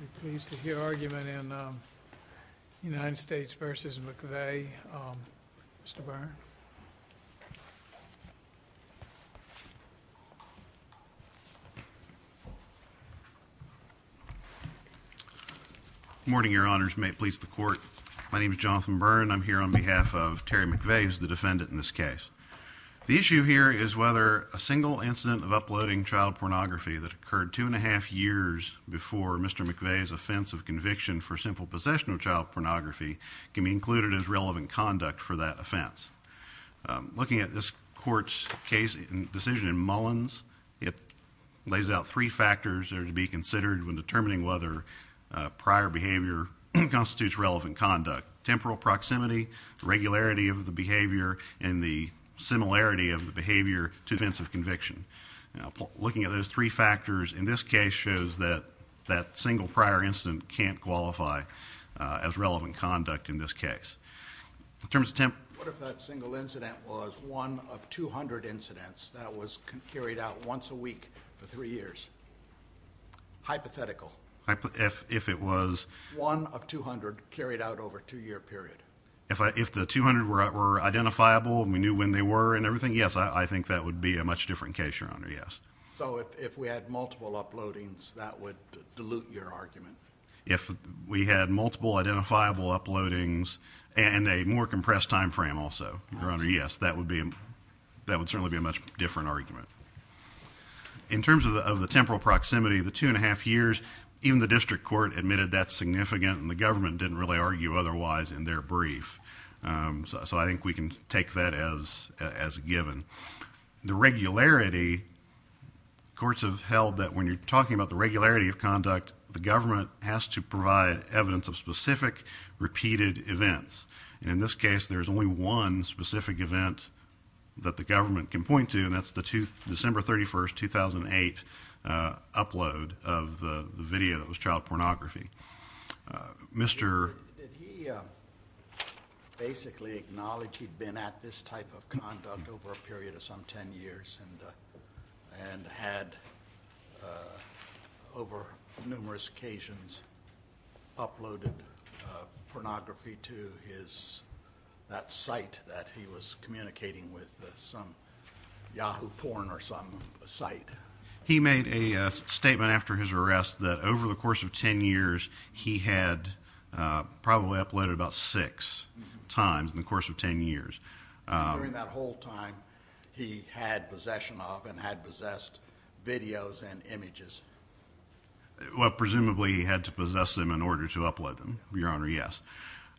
I'm pleased to hear argument in United States v. McVey. Mr. Byrne. Good morning, Your Honors. May it please the Court. My name is Jonathan Byrne. I'm here on behalf of Terry McVey, who is the defendant in this case. The issue here is whether a single incident of uploading child pornography that occurred two and a half years before Mr. McVey's offense of conviction for simple possession of child pornography can be included as relevant conduct for that offense. Looking at this Court's case decision in Mullins, it lays out three factors that are to be considered when determining whether prior behavior constitutes relevant conduct. Temporal proximity, the regularity of the behavior, and the similarity of the behavior to the offense of conviction. Looking at those three factors in this case shows that that single prior incident can't qualify as relevant conduct in this case. What if that single incident was one of 200 incidents that was carried out once a week for three years? Hypothetical. If it was... One of 200 carried out over a two-year period. If the 200 were identifiable and we knew when they were and everything, yes, I think that would be a much different case, Your Honor, yes. So if we had multiple uploadings, that would dilute your argument? If we had multiple identifiable uploadings and a more compressed time frame also, Your Honor, yes, that would certainly be a much different argument. In terms of the temporal proximity, the two and a half years, even the district court admitted that's significant and the government didn't really argue otherwise in their brief. So I think we can take that as a given. The regularity, courts have held that when you're talking about the regularity of conduct, the government has to provide evidence of specific repeated events. And in this case, there's only one specific event that the government can point to, and that's the December 31, 2008 upload of the video that was child pornography. Mr. Did he basically acknowledge he'd been at this type of conduct over a period of some 10 years and had, over numerous occasions, uploaded pornography to that site that he was communicating with, some Yahoo porn or some site? He made a statement after his arrest that over the course of 10 years, he had probably uploaded about six times in the course of 10 years. During that whole time, he had possession of and had possessed videos and images? Well, presumably he had to possess them in order to upload them, Your Honor, yes.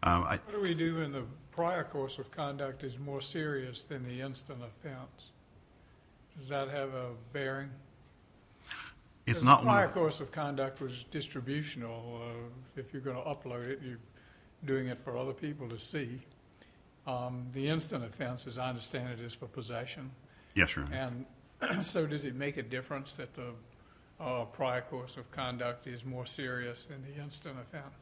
What do we do when the prior course of conduct is more serious than the instant offense? Does that have a bearing? It's not one of… The prior course of conduct was distributional. If you're going to upload it, you're doing it for other people to see. The instant offense, as I understand it, is for possession? Yes, Your Honor. And so does it make a difference that the prior course of conduct is more serious than the instant offense?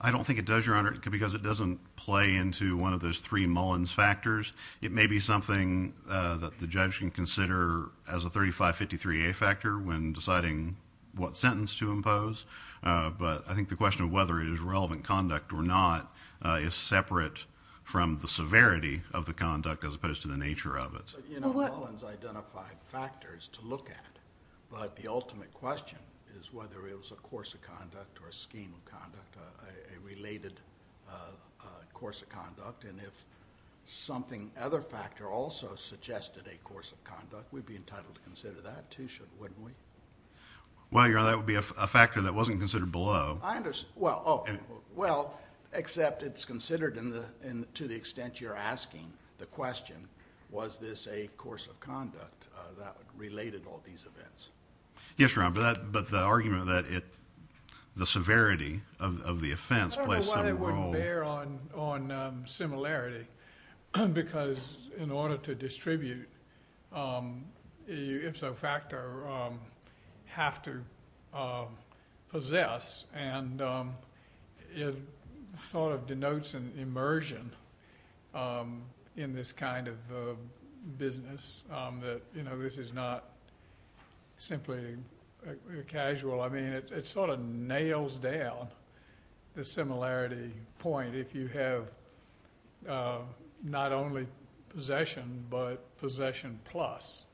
I don't think it does, Your Honor, because it doesn't play into one of those three Mullins factors. It may be something that the judge can consider as a 3553A factor when deciding what sentence to impose, but I think the question of whether it is relevant conduct or not is separate from the severity of the conduct as opposed to the nature of it. Mullins identified factors to look at, but the ultimate question is whether it was a course of conduct or a scheme of conduct, a related course of conduct. And if something other factor also suggested a course of conduct, we'd be entitled to consider that too, wouldn't we? Well, Your Honor, that would be a factor that wasn't considered below. I understand. Well, except it's considered to the extent you're asking the question, was this a course of conduct that related all these events? Yes, Your Honor, but the argument that the severity of the offense plays some role. I don't know why they wouldn't bear on similarity because in order to distribute, if so, factor have to possess and it sort of denotes an immersion in this kind of business that, you know, this is not simply casual. I mean, it sort of nails down the similarity point if you have not only possession but possession plus.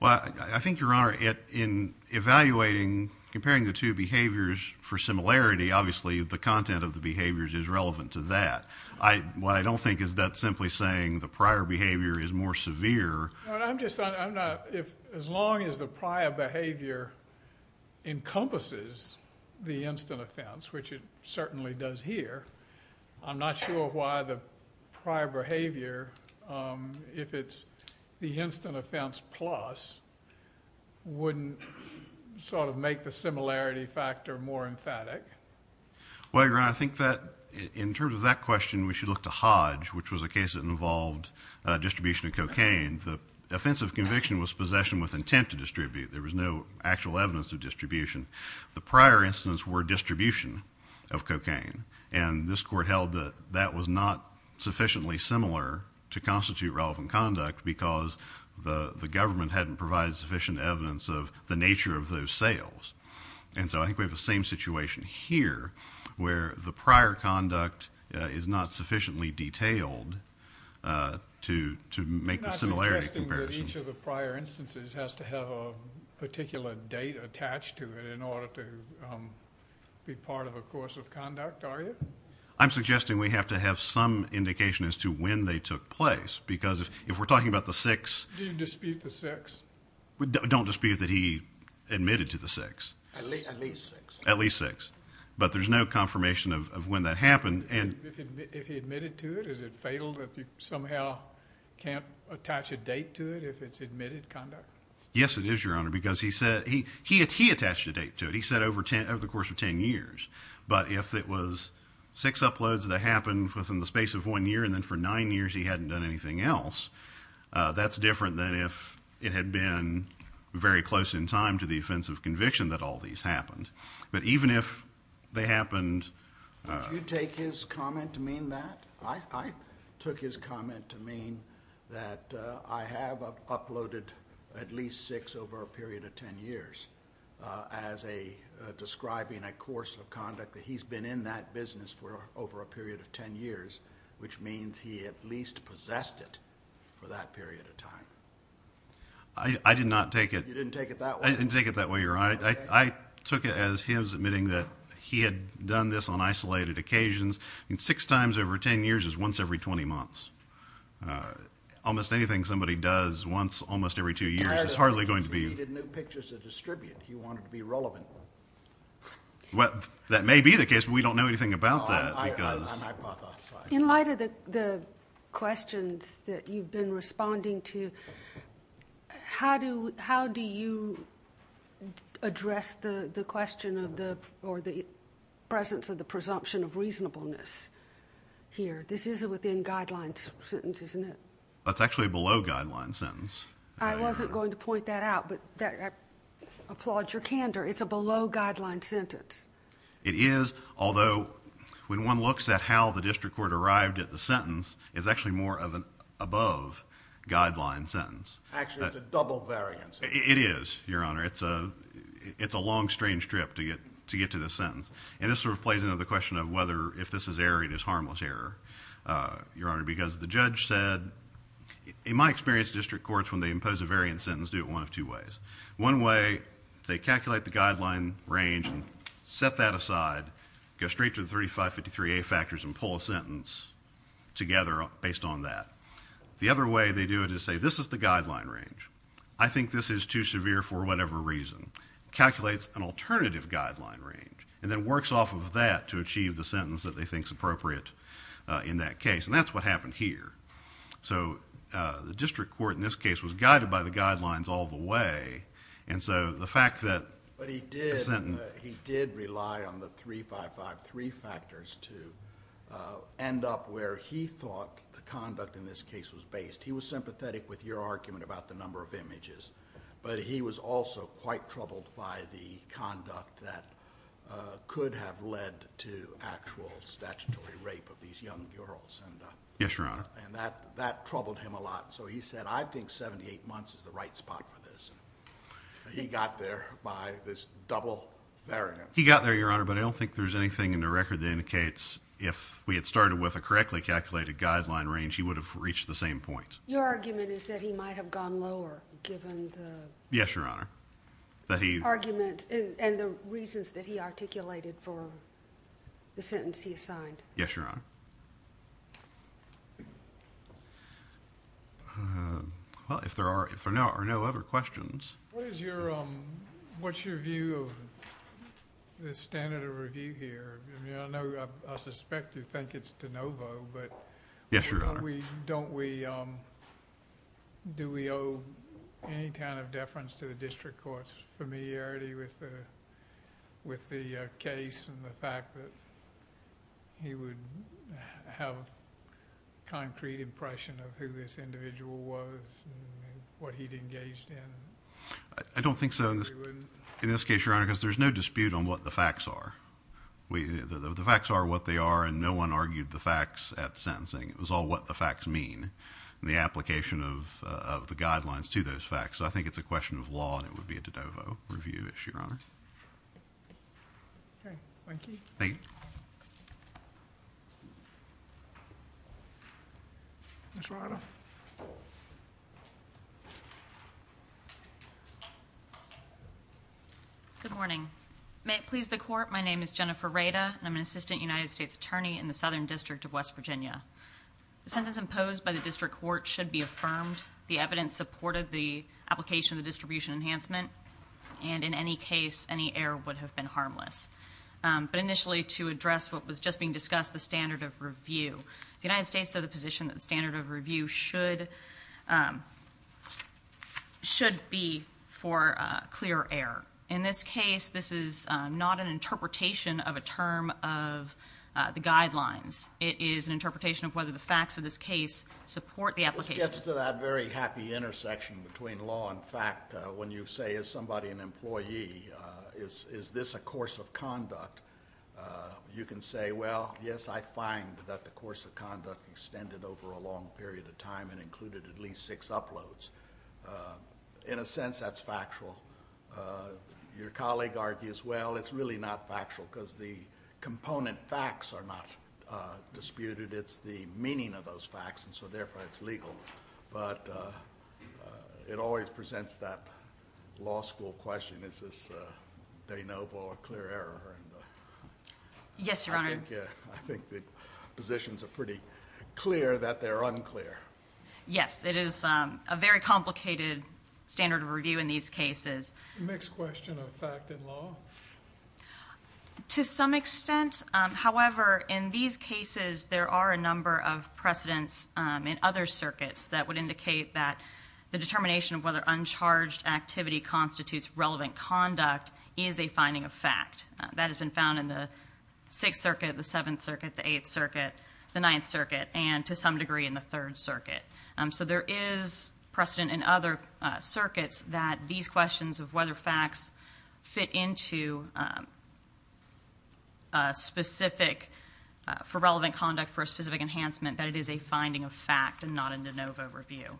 Well, I think, Your Honor, in evaluating, comparing the two behaviors for similarity, obviously the content of the behaviors is relevant to that. What I don't think is that simply saying the prior behavior is more severe. As long as the prior behavior encompasses the instant offense, which it certainly does here, I'm not sure why the prior behavior, if it's the instant offense plus, wouldn't sort of make the similarity factor more emphatic. Well, Your Honor, I think that in terms of that question, we should look to Hodge, which was a case that involved distribution of cocaine. The offensive conviction was possession with intent to distribute. There was no actual evidence of distribution. The prior incidents were distribution of cocaine, and this court held that that was not sufficiently similar to constitute relevant conduct because the government hadn't provided sufficient evidence of the nature of those sales. And so I think we have the same situation here where the prior conduct is not sufficiently detailed to make the similarity comparison. You're not suggesting that each of the prior instances has to have a particular date attached to it in order to be part of a course of conduct, are you? I'm suggesting we have to have some indication as to when they took place because if we're talking about the 6th. Do you dispute the 6th? We don't dispute that he admitted to the 6th. At least 6th. At least 6th. But there's no confirmation of when that happened. If he admitted to it, is it fatal that he somehow can't attach a date to it if it's admitted conduct? Yes, it is, Your Honor, because he said he attached a date to it. He said over the course of 10 years. But if it was six uploads that happened within the space of one year and then for nine years he hadn't done anything else, that's different than if it had been very close in time to the offense of conviction that all these happened. But even if they happened. Did you take his comment to mean that? I took his comment to mean that I have uploaded at least six over a period of 10 years as describing a course of conduct that he's been in that business for over a period of 10 years, which means he at least possessed it for that period of time. I did not take it. You didn't take it that way? I didn't take it that way, Your Honor. I took it as him admitting that he had done this on isolated occasions. Six times over 10 years is once every 20 months. Almost anything somebody does once almost every two years is hardly going to be... He needed new pictures to distribute. He wanted to be relevant. That may be the case, but we don't know anything about that because... In light of the questions that you've been responding to, how do you address the question of the presence of the presumption of reasonableness here? This is a within guidelines sentence, isn't it? That's actually a below guidelines sentence. I wasn't going to point that out, but I applaud your candor. It's a below guidelines sentence. It is, although when one looks at how the district court arrived at the sentence, it's actually more of an above guidelines sentence. Actually, it's a double variance. It is, Your Honor. It's a long, strange trip to get to this sentence, and this sort of plays into the question of whether if this is error, it is harmless error, Your Honor, because the judge said, in my experience, district courts, when they impose a variance sentence, do it one of two ways. One way, they calculate the guideline range and set that aside, go straight to the 3553A factors and pull a sentence together based on that. The other way they do it is say, this is the guideline range. I think this is too severe for whatever reason. Calculates an alternative guideline range and then works off of that to achieve the sentence that they think is appropriate in that case, and that's what happened here. So the district court in this case was guided by the guidelines all the way, and so the fact that the sentence But he did rely on the 3553 factors to end up where he thought the conduct in this case was based. He was sympathetic with your argument about the number of images, but he was also quite troubled by the conduct that could have led to actual statutory rape of these young girls. Yes, Your Honor. And that troubled him a lot. So he said, I think 78 months is the right spot for this. He got there by this double variance. He got there, Your Honor, but I don't think there's anything in the record that indicates if we had started with a correctly calculated guideline range, he would have reached the same point. Your argument is that he might have gone lower given the arguments and the reasons that he articulated for the sentence he assigned. Yes, Your Honor. Well, if there are no other questions. What's your view of the standard of review here? I mean, I know I suspect you think it's de novo. Yes, Your Honor. Do we owe any kind of deference to the district court's familiarity with the case and the fact that he would have a concrete impression of who this individual was and what he'd engaged in? I don't think so in this case, Your Honor, because there's no dispute on what the facts are. The facts are what they are, and no one argued the facts at sentencing. It was all what the facts mean and the application of the guidelines to those facts. So I think it's a question of law, and it would be a de novo review issue, Your Honor. Thank you. Thank you. Ms. Rada. Good morning. May it please the Court, my name is Jennifer Rada, and I'm an assistant United States attorney in the Southern District of West Virginia. The sentence imposed by the district court should be affirmed. The evidence supported the application of the distribution enhancement, and in any case, any error would have been harmless. But initially, to address what was just being discussed, the standard of review, the United States said the position that the standard of review should be for clear error. In this case, this is not an interpretation of a term of the guidelines. It is an interpretation of whether the facts of this case support the application. This gets to that very happy intersection between law and fact. When you say, is somebody an employee, is this a course of conduct, you can say, well, yes, I find that the course of conduct extended over a long period of time and included at least six uploads. In a sense, that's factual. Your colleague argues, well, it's really not factual because the component facts are not disputed. It's the meaning of those facts, and so therefore it's legal. But it always presents that law school question, is this de novo or clear error. Yes, Your Honor. I think the positions are pretty clear that they're unclear. Yes, it is a very complicated standard of review in these cases. Next question on fact and law. To some extent, however, in these cases, there are a number of precedents in other circuits that would indicate that the determination of whether uncharged activity constitutes relevant conduct is a finding of fact. That has been found in the Sixth Circuit, the Seventh Circuit, the Eighth Circuit, the Ninth Circuit, and to some degree in the Third Circuit. So there is precedent in other circuits that these questions of whether facts fit into specific for relevant conduct for a specific enhancement that it is a finding of fact and not a de novo review.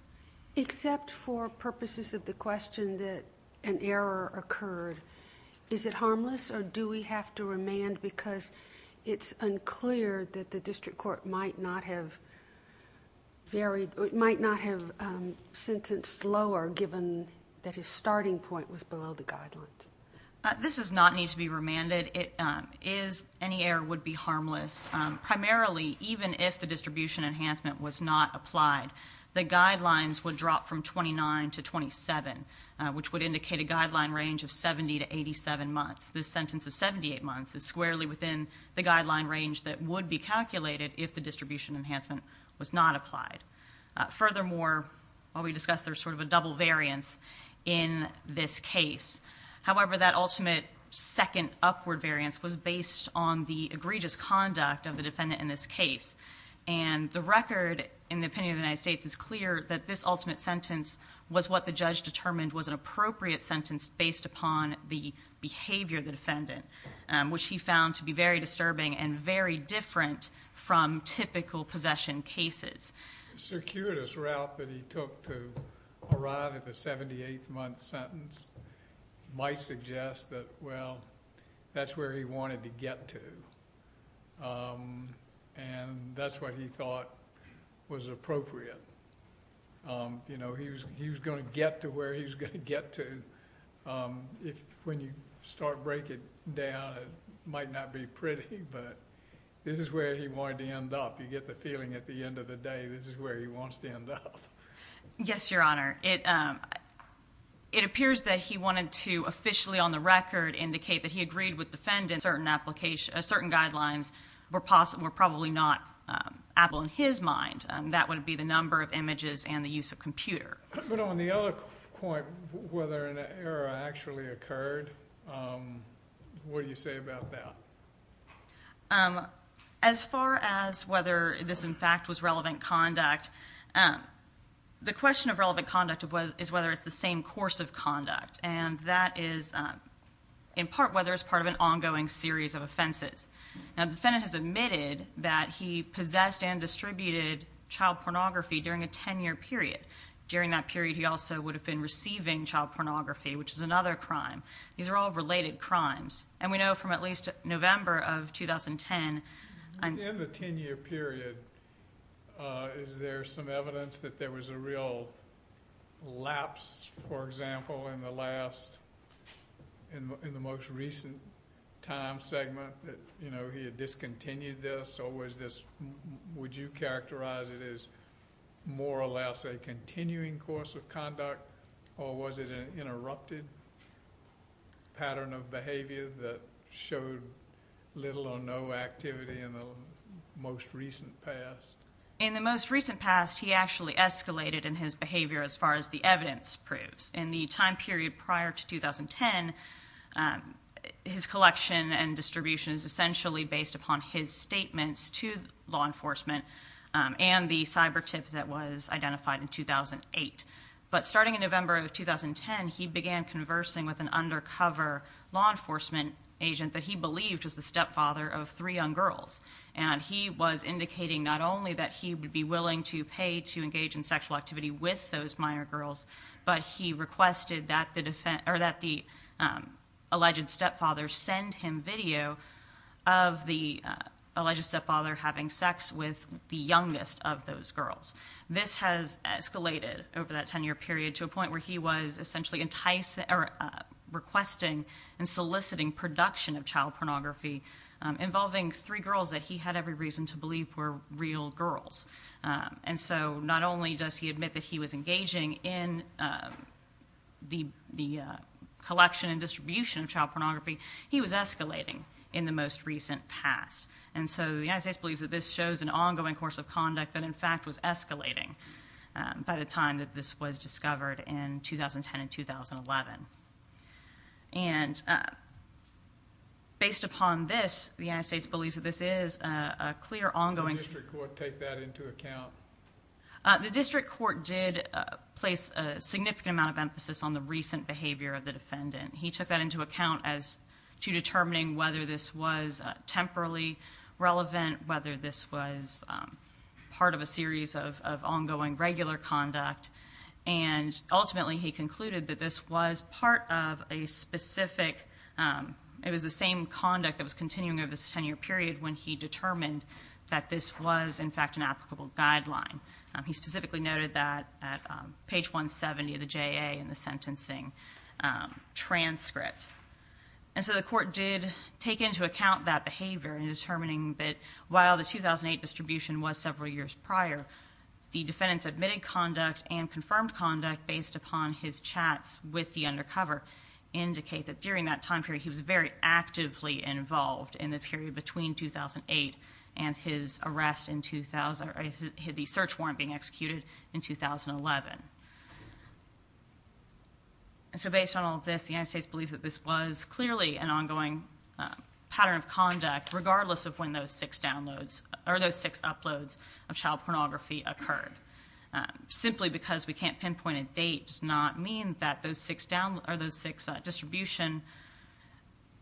Except for purposes of the question that an error occurred, is it harmless or do we have to remand because it's unclear that the district court might not have sentenced lower given that his starting point was below the guidelines? This does not need to be remanded. Any error would be harmless, primarily even if the distribution enhancement was not applied. The guidelines would drop from 29 to 27, which would indicate a guideline range of 70 to 87 months. This sentence of 78 months is squarely within the guideline range that would be calculated if the distribution enhancement was not applied. Furthermore, while we discussed, there's sort of a double variance in this case. However, that ultimate second upward variance was based on the egregious conduct of the defendant in this case. And the record in the opinion of the United States is clear that this ultimate sentence was what the judge determined was an appropriate sentence based upon the behavior of the defendant, which he found to be very disturbing and very different from typical possession cases. The circuitous route that he took to arrive at the 78-month sentence might suggest that, well, that's where he wanted to get to. And that's what he thought was appropriate. You know, he was going to get to where he was going to get to. When you start breaking down, it might not be pretty, but this is where he wanted to end up. You get the feeling at the end of the day this is where he wants to end up. Yes, Your Honor. It appears that he wanted to officially on the record indicate that he agreed with the defendant certain guidelines were probably not applicable in his mind. That would be the number of images and the use of computer. But on the other point, whether an error actually occurred, what do you say about that? As far as whether this, in fact, was relevant conduct, the question of relevant conduct is whether it's the same course of conduct, and that is in part whether it's part of an ongoing series of offenses. Now, the defendant has admitted that he possessed and distributed child pornography during a 10-year period. During that period, he also would have been receiving child pornography, which is another crime. These are all related crimes. And we know from at least November of 2010. Within the 10-year period, is there some evidence that there was a real lapse, for example, in the most recent time segment that he had discontinued this, or would you characterize it as more or less a continuing course of conduct, or was it an interrupted pattern of behavior that showed little or no activity in the most recent past? In the most recent past, he actually escalated in his behavior as far as the evidence proves. In the time period prior to 2010, his collection and distribution is essentially based upon his statements to law enforcement and the cyber tip that was identified in 2008. But starting in November of 2010, he began conversing with an undercover law enforcement agent that he believed was the stepfather of three young girls. And he was indicating not only that he would be willing to pay to engage in sexual activity with those minor girls, but he requested that the alleged stepfather send him video of the alleged stepfather having sex with the youngest of those girls. This has escalated over that 10-year period to a point where he was essentially requesting and soliciting production of child pornography involving three girls that he had every reason to believe were real girls. And so not only does he admit that he was engaging in the collection and distribution of child pornography, he was escalating in the most recent past. And so the United States believes that this shows an ongoing course of conduct that, in fact, was escalating by the time that this was discovered in 2010 and 2011. And based upon this, the United States believes that this is a clear ongoing- Did the district court take that into account? The district court did place a significant amount of emphasis on the recent behavior of the defendant. He took that into account as to determining whether this was temporally relevant, whether this was part of a series of ongoing regular conduct. And ultimately, he concluded that this was part of a specific- it was the same conduct that was continuing over this 10-year period when he determined that this was, in fact, an applicable guideline. He specifically noted that at page 170 of the JA in the sentencing transcript. And so the court did take into account that behavior in determining that, while the 2008 distribution was several years prior, the defendant's admitted conduct and confirmed conduct based upon his chats with the undercover indicate that during that time period he was very actively involved in the period between 2008 and his arrest in- the search warrant being executed in 2011. And so based on all this, the United States believes that this was clearly an ongoing pattern of conduct, regardless of when those six downloads- or those six uploads of child pornography occurred. Simply because we can't pinpoint a date does not mean that those six distribution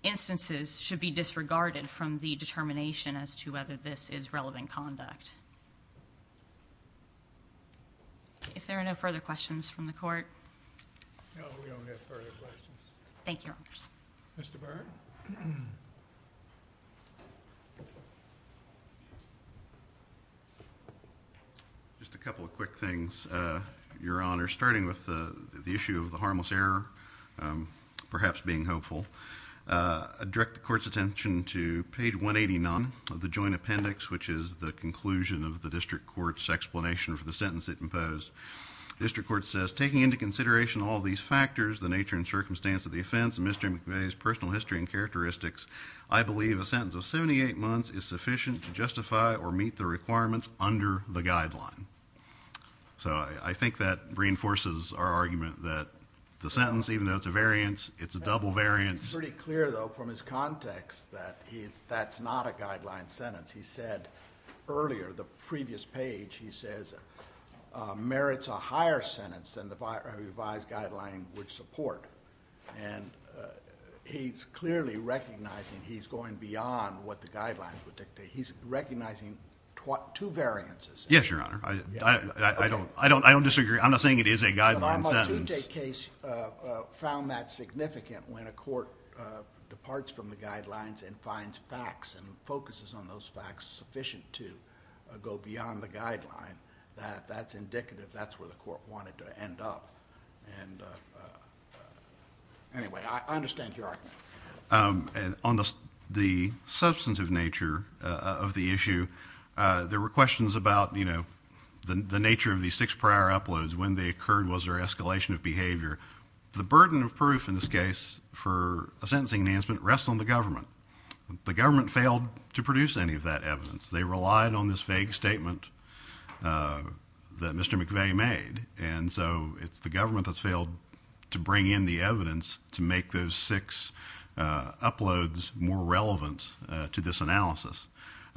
instances should be disregarded from the determination as to whether this is relevant conduct. If there are no further questions from the court. No, we don't have further questions. Thank you, Your Honors. Mr. Byrne? Just a couple of quick things, Your Honors. Starting with the issue of the harmless error, perhaps being hopeful. I direct the court's attention to page 189 of the joint appendix, which is the conclusion of the district court's explanation for the sentence it imposed. The district court says, taking into consideration all of these factors, the nature and circumstance of the offense, and Mr. McVeigh's personal history and characteristics, I believe a sentence of 78 months is sufficient to justify or meet the requirements under the guideline. So I think that reinforces our argument that the sentence, even though it's a variance, it's a double variance. It's pretty clear, though, from his context that that's not a guideline sentence. He said earlier, the previous page, he says merits a higher sentence than the revised guideline would support. And he's clearly recognizing he's going beyond what the guidelines would dictate. He's recognizing two variances. Yes, Your Honor. I don't disagree. I'm not saying it is a guideline sentence. The Ducey case found that significant when a court departs from the guidelines and finds facts and focuses on those facts sufficient to go beyond the guideline, that that's indicative, that's where the court wanted to end up. And anyway, I understand your argument. On the substantive nature of the issue, there were questions about, you know, the nature of these six prior uploads, when they occurred, was there escalation of behavior? The burden of proof in this case for a sentencing enhancement rests on the government. The government failed to produce any of that evidence. They relied on this vague statement that Mr. McVeigh made. And so it's the government that's failed to bring in the evidence to make those six uploads more relevant to this analysis.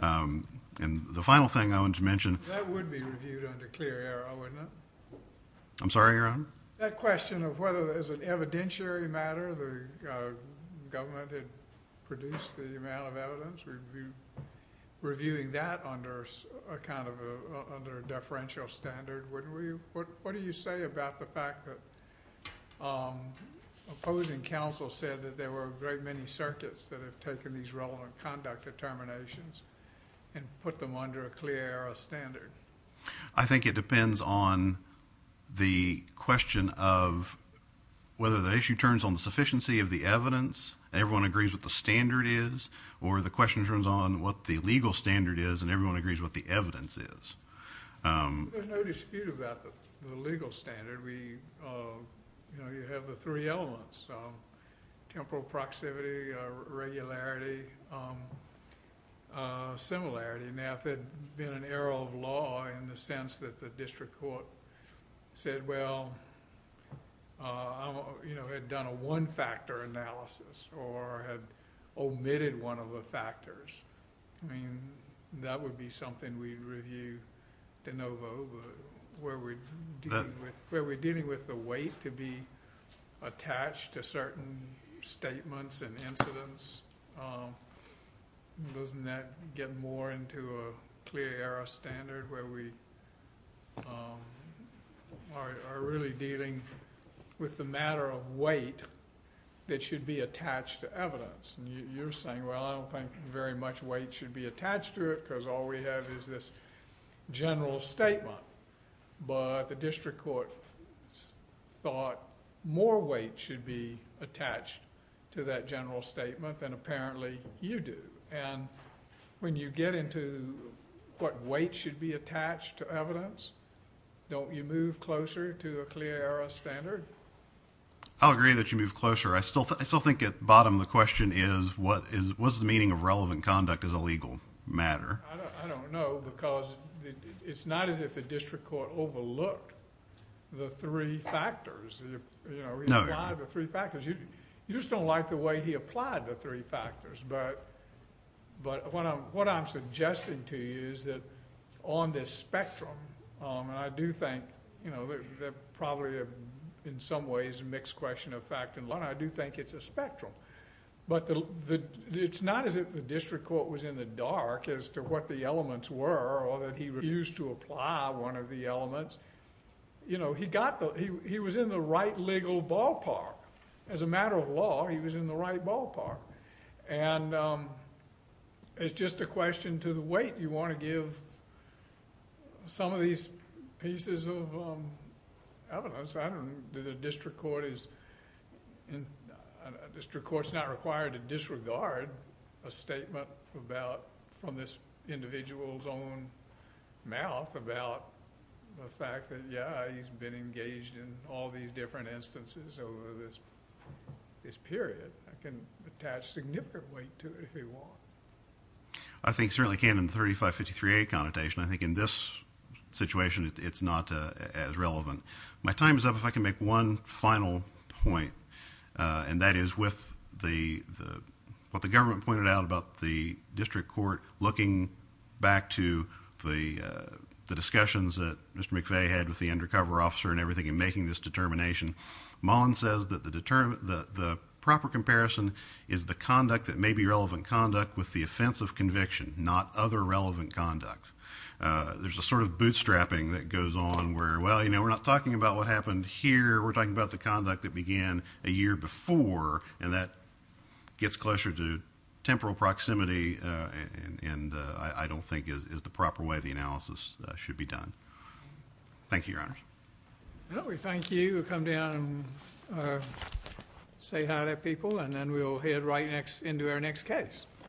And the final thing I wanted to mention. That would be reviewed under clear error, wouldn't it? I'm sorry, Your Honor? That question of whether there's an evidentiary matter, the government had produced the amount of evidence, reviewing that under a kind of a deferential standard, wouldn't we? What do you say about the fact that opposing counsel said that there were very many circuits that have taken these relevant conduct determinations and put them under a clear error standard? I think it depends on the question of whether the issue turns on the sufficiency of the evidence, and everyone agrees what the standard is, or the question turns on what the legal standard is and everyone agrees what the evidence is. There's no dispute about the legal standard. You have the three elements. Temporal proximity, regularity, similarity. Now, if it had been an error of law in the sense that the district court said, well, had done a one-factor analysis or had omitted one of the factors, I mean, that would be something we'd review de novo, but where we're dealing with the weight to be attached to certain statements and incidents, doesn't that get more into a clear error standard where we are really dealing with the matter of weight that should be attached to evidence? You're saying, well, I don't think very much weight should be attached to it because all we have is this general statement, but the district court thought more weight should be attached to that general statement than apparently you do. When you get into what weight should be attached to evidence, don't you move closer to a clear error standard? I'll agree that you move closer. I still think at the bottom the question is, what's the meaning of relevant conduct as a legal matter? I don't know because it's not as if the district court overlooked the three factors. He applied the three factors. You just don't like the way he applied the three factors, but what I'm suggesting to you is that on this spectrum, and I do think they're probably in some ways a mixed question of fact and line. I do think it's a spectrum, but it's not as if the district court was in the dark as to what the elements were or that he refused to apply one of the elements. He was in the right legal ballpark. As a matter of law, he was in the right ballpark. It's just a question to the weight. You want to give some of these pieces of evidence. The district court is not required to disregard a statement from this individual's own mouth about the fact that, yeah, he's been engaged in all these different instances over this period. I can attach significant weight to it if you want. I think certainly can in the 3553A connotation. I think in this situation, it's not as relevant. My time is up if I can make one final point, and that is what the government pointed out about the district court looking back to the discussions that Mr. McVeigh had with the undercover officer and everything in making this determination. Mullen says that the proper comparison is the conduct that may be relevant conduct with the offense of conviction, not other relevant conduct. There's a sort of bootstrapping that goes on where, well, you know, we're not talking about what happened here. We're talking about the conduct that began a year before, and that gets closer to temporal proximity and I don't think is the proper way the analysis should be done. Thank you, Your Honor. Well, we thank you. Come down and say hi to people, and then we'll head right into our next case.